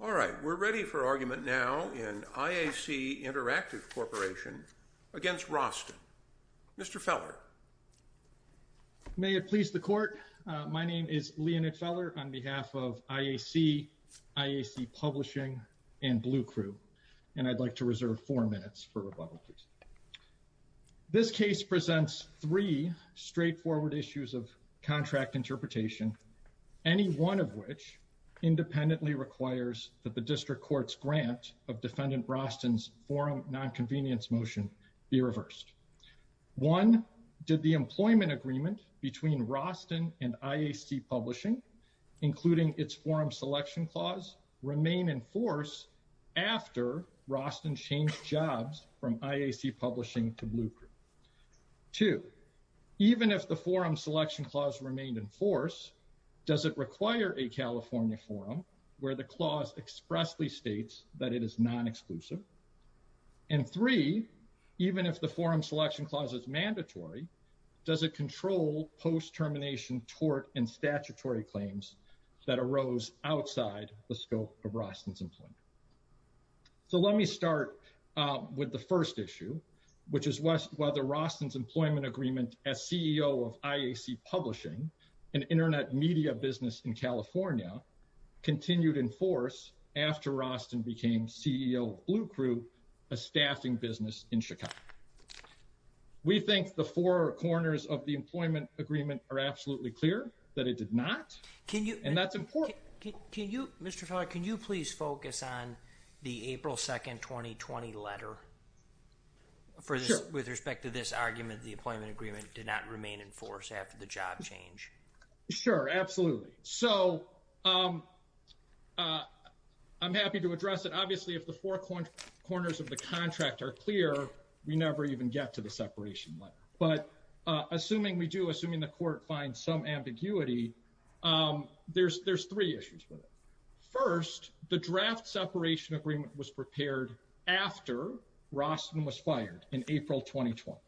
All right, we're ready for argument now in IAC-InterActiveCorp against Roston. Mr. Feller. May it please the Court, my name is Leonid Feller on behalf of IAC, IAC Publishing, and Blue Crew, and I'd like to reserve four minutes for rebuttal, please. This case presents three straightforward issues of contract interpretation, any one of which independently requires that the District Court's grant of Defendant Roston's forum nonconvenience motion be reversed. One, did the employment agreement between Roston and IAC Publishing, including its forum selection clause, remain in force after Roston changed jobs from IAC Publishing to Blue Crew? Two, even if the forum selection clause remained in force, does it require a California forum where the clause expressly states that it is non-exclusive? And three, even if the forum selection clause is mandatory, does it control post-termination tort and statutory claims that arose outside the scope of Roston's employment? So let me start with the first issue, which is whether Roston's employment agreement as CEO of IAC Publishing, an internet media business in California, continued in force after Roston became CEO of Blue Crew, a staffing business in Chicago. We think the four corners of the employment agreement are absolutely clear that it did not, and that's important. Mr. Feller, can you please focus on the April 2nd, 2020 letter with respect to this argument that the employment agreement did not remain in force after the job change? Sure, absolutely. So I'm happy to address it. Obviously, if the four corners of the contract are clear, we never even get to the separation letter. But assuming we do, assuming the court finds some ambiguity, there's three issues with it. First, the draft separation agreement was prepared after Roston was fired in April 2020.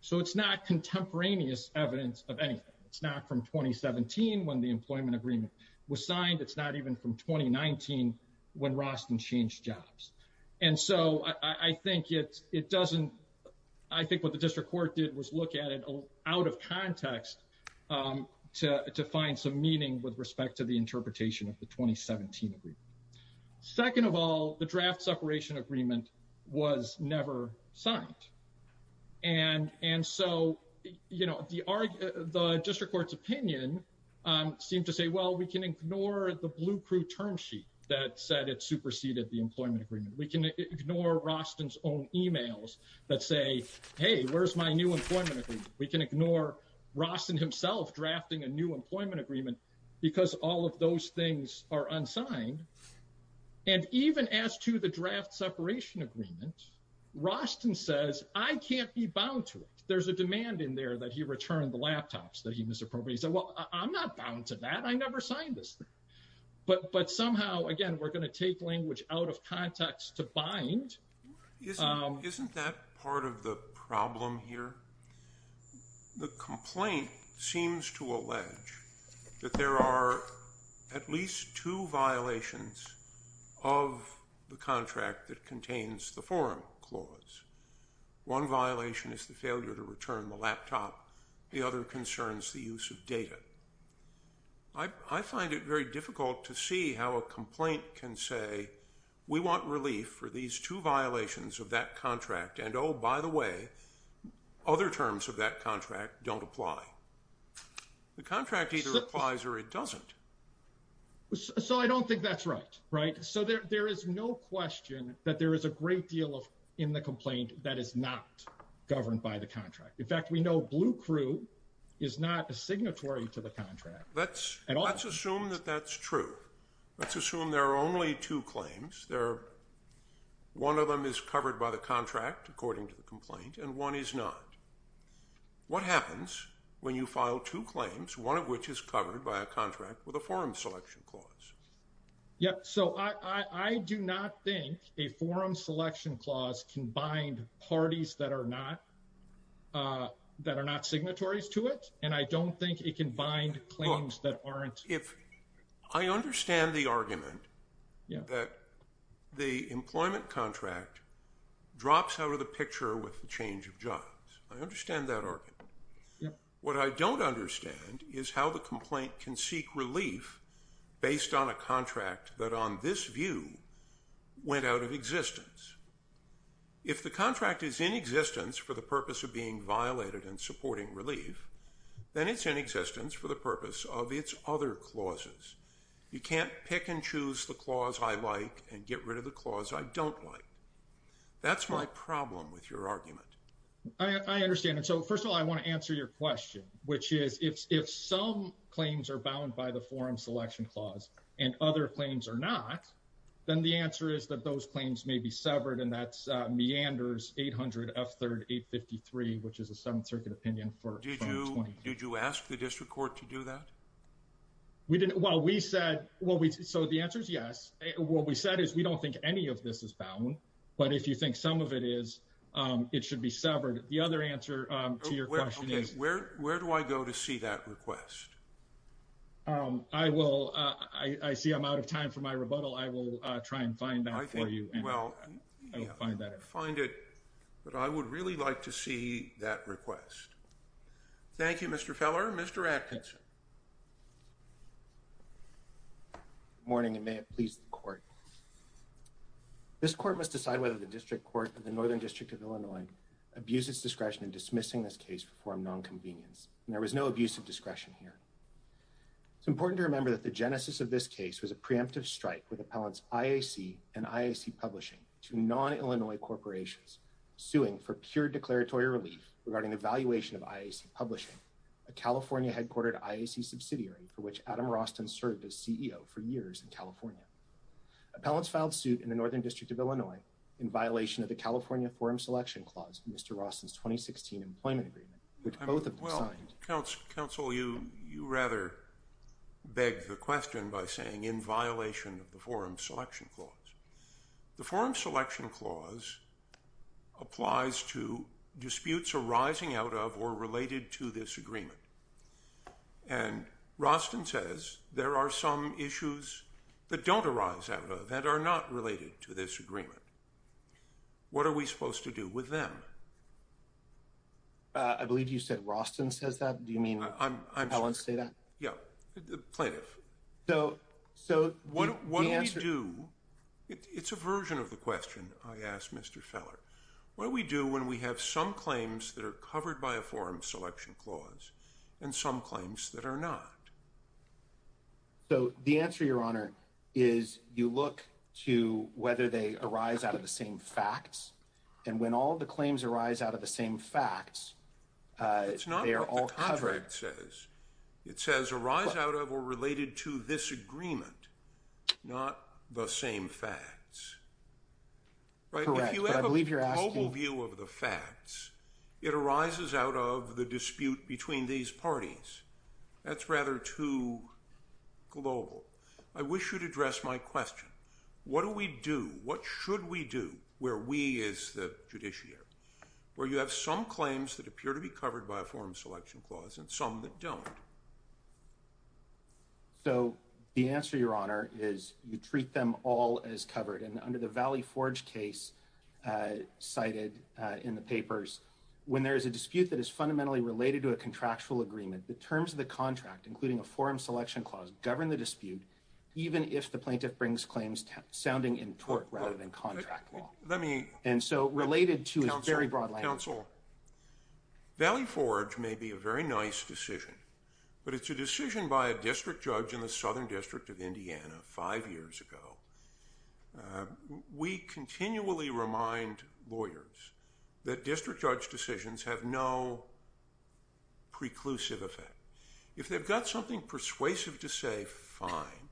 So it's not contemporaneous evidence of anything. It's not from 2017 when the employment agreement was signed. It's not even from 2019 when Roston changed jobs. And so I think it doesn't, I think what the district court did was look at it out of context to find some meaning with respect to the interpretation of the 2017 agreement. Second of all, the draft separation agreement was never signed. And so, you know, the district court's opinion seemed to say, well, we can ignore the Blue Crew term sheet that said it superseded the employment agreement. We can ignore Roston's own emails that say, hey, where's my new employment agreement? We can ignore Roston himself drafting a new employment agreement because all of those things are unsigned. And even as to the draft separation agreement, Roston says, I can't be bound to it. There's a demand in there that he returned the laptops that he misappropriated. And he said, well, I'm not bound to that. I never signed this. But somehow, again, we're going to take language out of context to bind. Isn't that part of the problem here? The complaint seems to allege that there are at least two violations of the contract that contains the forum clause. One violation is the failure to return the laptop. The other concerns the use of data. I find it very difficult to see how a complaint can say, we want relief for these two violations of that contract. And oh, by the way, other terms of that contract don't apply. The contract either applies or it doesn't. So I don't think that's right. Right. So there is no question that there is a great deal of in the complaint that is not governed by the contract. In fact, we know Blue Crew is not a signatory to the contract. Let's assume that that's true. Let's assume there are only two claims. One of them is covered by the contract, according to the complaint, and one is not. What happens when you file two claims, one of which is covered by a contract with a forum selection clause? Yep. So I do not think a forum selection clause can bind parties that are not signatories to it. And I don't think it can bind claims that aren't. I understand the argument that the employment contract drops out of the picture with the change of jobs. I understand that argument. What I don't understand is how the complaint can seek relief based on a contract that on this view went out of existence. If the contract is in existence for the purpose of being violated and supporting relief, then it's in existence for the purpose of its other clauses. You can't pick and choose the clause I like and get rid of the clause I don't like. That's my problem with your argument. I understand. And so, first of all, I want to answer your question, which is if some claims are bound by the forum selection clause and other claims are not, then the answer is that those claims may be severed. And that's meanders 800 F 3853, which is a 7th Circuit opinion. Did you ask the district court to do that? We didn't. Well, we said, well, so the answer is yes. What we said is we don't think any of this is bound. But if you think some of it is, it should be severed. The other answer to your question is, where do I go to see that request? I will. I see I'm out of time for my rebuttal. I will try and find that for you. Well, find that find it. But I would really like to see that request. Thank you, Mr. Feller. Mr. Atkinson. Morning, and may it please the court. This court must decide whether the district court in the northern district of Illinois abuses discretion in dismissing this case for nonconvenience. And there was no abuse of discretion here. It's important to remember that the genesis of this case was a preemptive strike with appellants IAC and IAC publishing to non Illinois corporations suing for pure declaratory relief regarding the valuation of IAC publishing a California headquartered IAC subsidiary for which Adam Roston served as CEO for years in California. Appellants filed suit in the northern district of Illinois in violation of the California Forum Selection Clause, Mr. Roston's 2016 employment agreement, which both of them signed. Counsel you you rather beg the question by saying in violation of the Forum Selection Clause. The Forum Selection Clause applies to disputes arising out of or related to this agreement. And Roston says there are some issues that don't arise out of that are not related to this agreement. What are we supposed to do with them? I believe you said Roston says that. Do you mean I want to say that? Plaintiff. So. So what do we do? It's a version of the question. I asked Mr. Feller what we do when we have some claims that are covered by a forum selection clause and some claims that are not. So the answer, Your Honor, is you look to whether they arise out of the same facts and when all the claims arise out of the same facts, they are all covered. It says arise out of or related to this agreement, not the same facts. Right. I believe you're asking view of the facts. It arises out of the dispute between these parties. That's rather too global. I wish you'd address my question. What do we do? What should we do where we is the judiciary where you have some claims that appear to be covered by a forum selection clause and some that don't? So the answer, Your Honor, is you treat them all as covered. And under the Valley Forge case cited in the papers, when there is a dispute that is fundamentally related to a contractual agreement, the terms of the contract, including a forum selection clause, govern the dispute, even if the plaintiff brings claims sounding in tort rather than contract law. Let me. And so related to a very broad council. Valley Forge may be a very nice decision, but it's a decision by a district judge in the southern district of Indiana five years ago. We continually remind lawyers that district judge decisions have no preclusive effect. If they've got something persuasive to say, fine.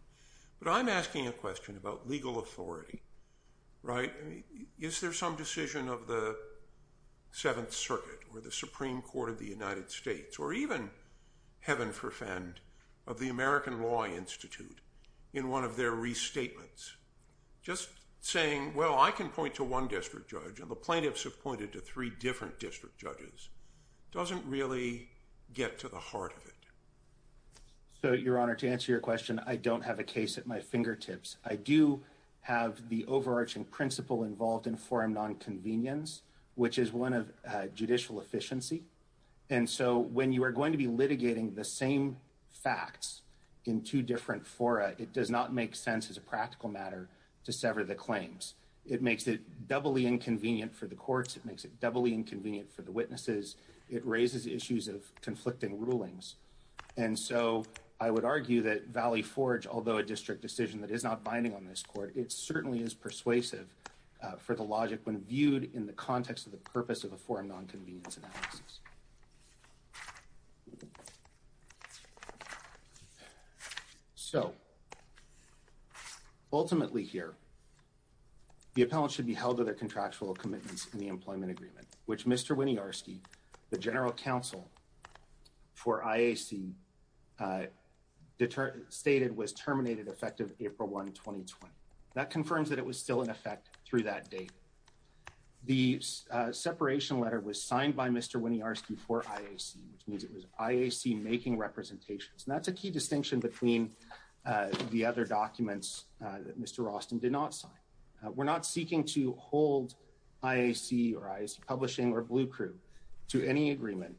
But I'm asking a question about legal authority, right? Is there some decision of the Seventh Circuit or the Supreme Court of the United States or even heaven forfend of the American Law Institute in one of their restatements? Just saying, well, I can point to one district judge and the plaintiffs have pointed to three different district judges doesn't really get to the heart of it. So, Your Honor, to answer your question, I don't have a case at my fingertips. I do have the overarching principle involved in forum nonconvenience, which is one of judicial efficiency. And so when you are going to be litigating the same facts in two different fora, it does not make sense as a practical matter to sever the claims. It makes it doubly inconvenient for the courts. It makes it doubly inconvenient for the witnesses. It raises issues of conflicting rulings. And so I would argue that Valley Forge, although a district decision that is not binding on this court, it certainly is persuasive for the logic when viewed in the context of the purpose of a forum nonconvenience analysis. So, ultimately here, the appellant should be held to their contractual commitments in the employment agreement, which Mr. Winniarski, the general counsel for IAC stated was terminated effective April 1, 2020. That confirms that it was still in effect through that date. The separation letter was signed by Mr. Winniarski for IAC, which means it was IAC making representations. And that's a key distinction between the other documents that Mr. Rauston did not sign. We're not seeking to hold IAC or IAC Publishing or Blue Crew to any agreement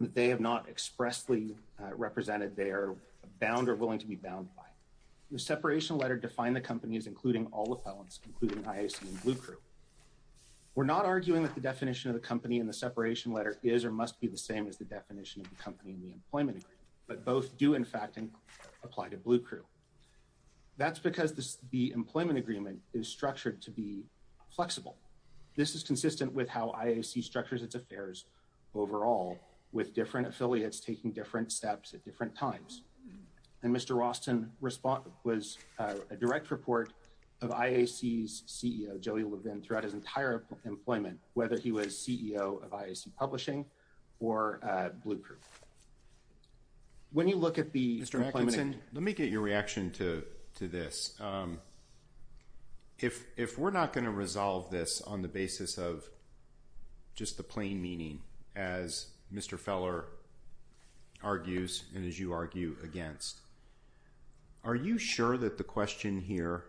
that they have not expressly represented they are bound or willing to be bound by. The separation letter defined the company as including all appellants, including IAC and Blue Crew. We're not arguing that the definition of the company in the separation letter is or must be the same as the definition of the company in the employment agreement, but both do in fact apply to Blue Crew. That's because the employment agreement is structured to be flexible. This is consistent with how IAC structures its affairs overall with different affiliates taking different steps at different times. And Mr. Rauston was a direct report of IAC's CEO, Joey Levin, throughout his entire employment, whether he was CEO of IAC Publishing or Blue Crew. When you look at the Mr. McClendon, let me get your reaction to this. If if we're not going to resolve this on the basis of just the plain meaning, as Mr. Feller argues and as you argue against. Are you sure that the question here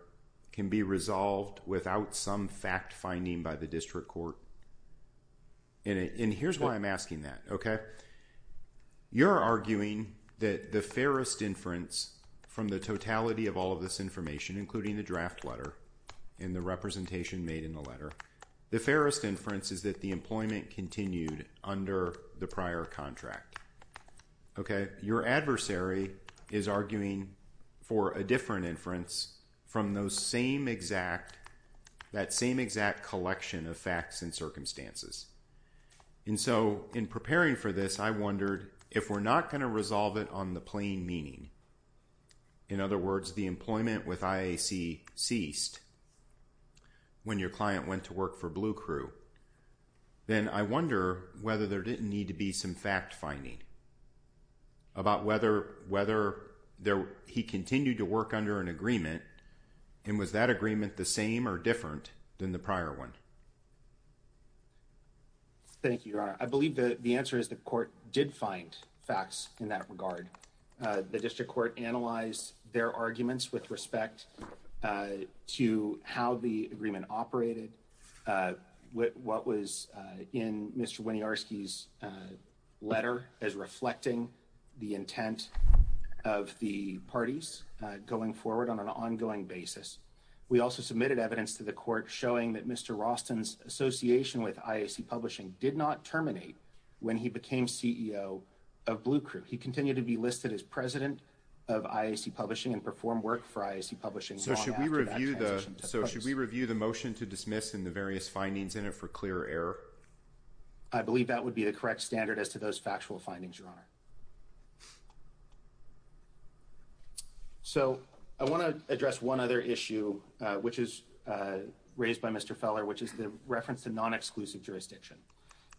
can be resolved without some fact finding by the district court? And here's why I'm asking that, OK? You're arguing that the fairest inference from the totality of all of this information, including the draft letter and the representation made in the letter. The fairest inference is that the employment continued under the prior contract. OK, your adversary is arguing for a different inference from those same exact that same exact collection of facts and circumstances. And so in preparing for this, I wondered if we're not going to resolve it on the plain meaning. In other words, the employment with IAC ceased. When your client went to work for Blue Crew. Then I wonder whether there didn't need to be some fact finding. About whether whether there he continued to work under an agreement and was that agreement the same or different than the prior one? Thank you. I believe that the answer is the court did find facts in that regard. The district court analyzed their arguments with respect to how the agreement operated. What was in Mr. Winniarski's letter as reflecting the intent of the parties going forward on an ongoing basis? We also submitted evidence to the court showing that Mr. Roston's association with IAC publishing did not terminate when he became CEO of Blue Crew. He continued to be listed as president of IAC publishing and perform work for IAC publishing. So should we review the so should we review the motion to dismiss in the various findings in it for clear error? I believe that would be the correct standard as to those factual findings, your honor. So I want to address one other issue, which is raised by Mr. Feller, which is the reference to non-exclusive jurisdiction.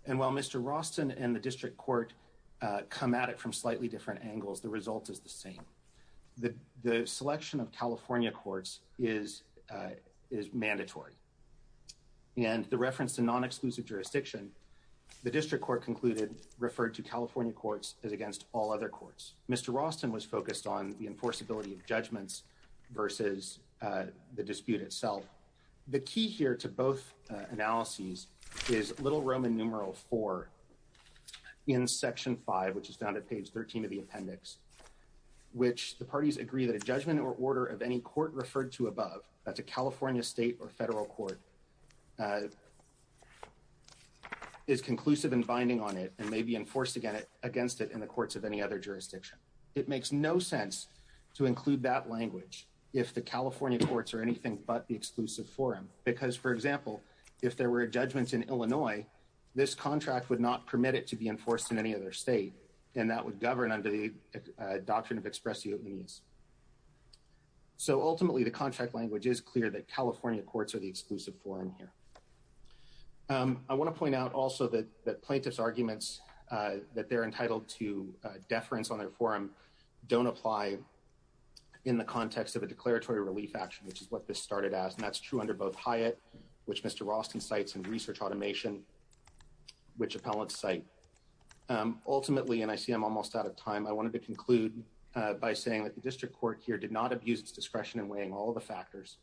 And while Mr. Roston and the district court come at it from slightly different angles, the result is the same. The selection of California courts is is mandatory. And the reference to non-exclusive jurisdiction, the district court concluded, referred to California courts as against all other courts. Mr. Roston was focused on the enforceability of judgments versus the dispute itself. The key here to both analyses is Little Roman numeral four in section five, which is found at page 13 of the appendix, which the parties agree that a judgment or order of any court referred to above. That's a California state or federal court. Is conclusive and binding on it and may be enforced against it in the courts of any other jurisdiction. It makes no sense to include that language if the California courts are anything but the exclusive forum. Because, for example, if there were judgments in Illinois, this contract would not permit it to be enforced in any other state. And that would govern under the doctrine of express use. So ultimately, the contract language is clear that California courts are the exclusive forum here. I want to point out also that the plaintiff's arguments that they're entitled to deference on their forum don't apply in the context of a declaratory relief action, which is what this started as. And that's true under both Hyatt, which Mr. Roston cites and research automation, which appellate site. Ultimately, and I see I'm almost out of time. I wanted to conclude by saying that the district court here did not abuse its discretion in weighing all the factors.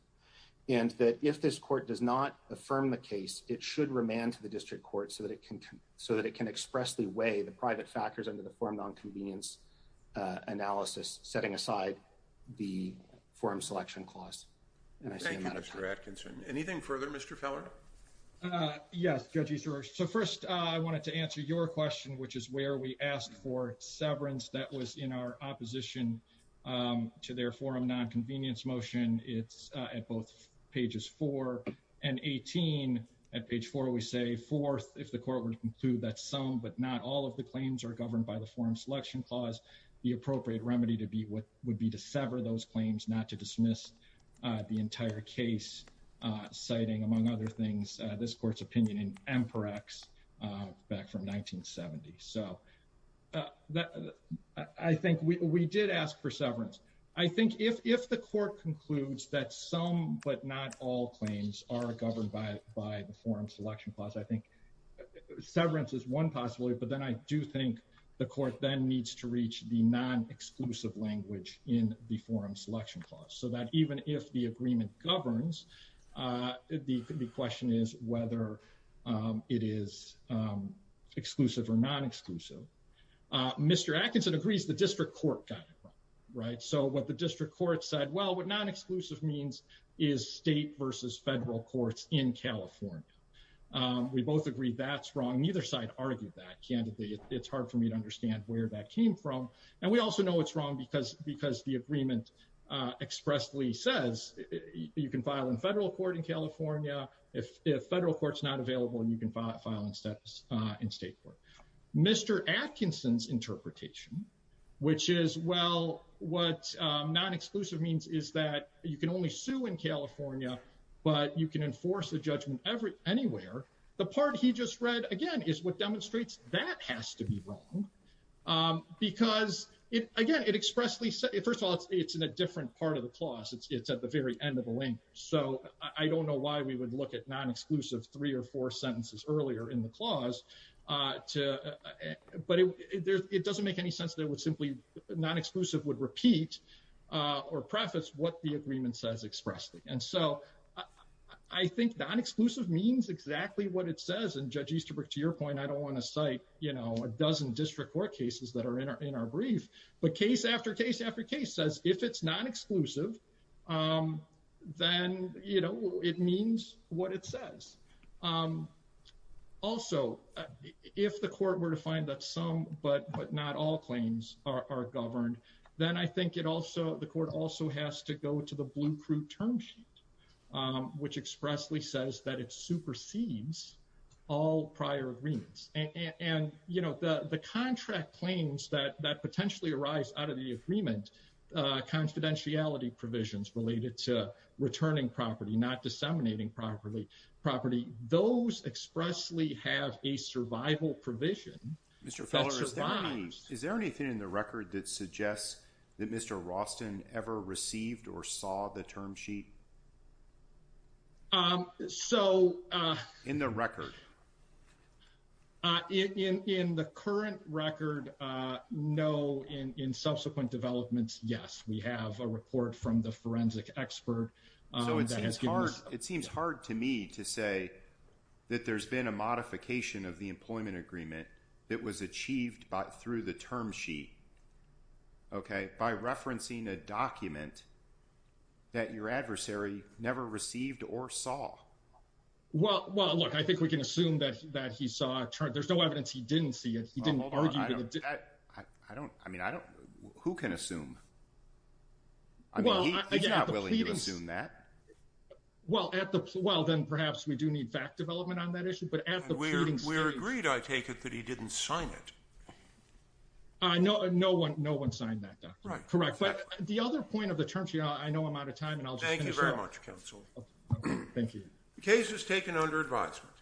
And that if this court does not affirm the case, it should remand to the district court so that it can so that it can express the way the private factors under the form nonconvenience analysis, setting aside the forum selection clause. Mr. Atkinson. Anything further, Mr. Feller? Yes. So first, I wanted to answer your question, which is where we asked for severance. That was in our opposition to their forum nonconvenience motion. It's at both pages four and 18 at page four. So we say fourth, if the court were to conclude that some but not all of the claims are governed by the forum selection clause, the appropriate remedy to be what would be to sever those claims, not to dismiss the entire case, citing, among other things, this court's opinion in Emperax back from 1970. So I think we did ask for severance. I think if the court concludes that some but not all claims are governed by the forum selection clause, I think severance is one possibility. But then I do think the court then needs to reach the non-exclusive language in the forum selection clause so that even if the agreement governs, the question is whether it is exclusive or non-exclusive. Mr. Atkinson agrees the district court got it right. So what the district court said, well, what non-exclusive means is state versus federal courts in California. We both agree that's wrong. Neither side argued that candidly. It's hard for me to understand where that came from. And we also know it's wrong because the agreement expressly says you can file in federal court in California. If federal court's not available, you can file in state court. Mr. Atkinson's interpretation, which is, well, what non-exclusive means is that you can only sue in California, but you can enforce a judgment anywhere. The part he just read, again, is what demonstrates that has to be wrong because, again, it expressly says, first of all, it's in a different part of the clause. It's at the very end of the link. So I don't know why we would look at non-exclusive three or four sentences earlier in the clause. But it doesn't make any sense that it would simply, non-exclusive would repeat or preface what the agreement says expressly. And so I think non-exclusive means exactly what it says. And Judge Easterbrook, to your point, I don't want to cite, you know, a dozen district court cases that are in our brief. But case after case after case says if it's non-exclusive, then, you know, it means what it says. Also, if the court were to find that some but not all claims are governed, then I think it also, the court also has to go to the blue crude term sheet, which expressly says that it supersedes all prior agreements. And, you know, the contract claims that potentially arise out of the agreement, confidentiality provisions related to returning property, not disseminating property. Those expressly have a survival provision. Mr. Feller, is there anything in the record that suggests that Mr. Rauston ever received or saw the term sheet? So. In the record? In the current record, no. In subsequent developments, yes. We have a report from the forensic expert. It seems hard to me to say that there's been a modification of the employment agreement that was achieved through the term sheet. Okay. By referencing a document that your adversary never received or saw. Well, well, look, I think we can assume that that he saw. There's no evidence he didn't see it. He didn't argue. I don't I mean, I don't who can assume. I mean, he's not willing to assume that. Well, at the well, then perhaps we do need fact development on that issue. But at the we're we're agreed. I take it that he didn't sign it. I know no one. No one signed that. Correct. But the other point of the term sheet, I know I'm out of time. And I'll thank you very much. Counsel. Thank you. The case is taken under advisement.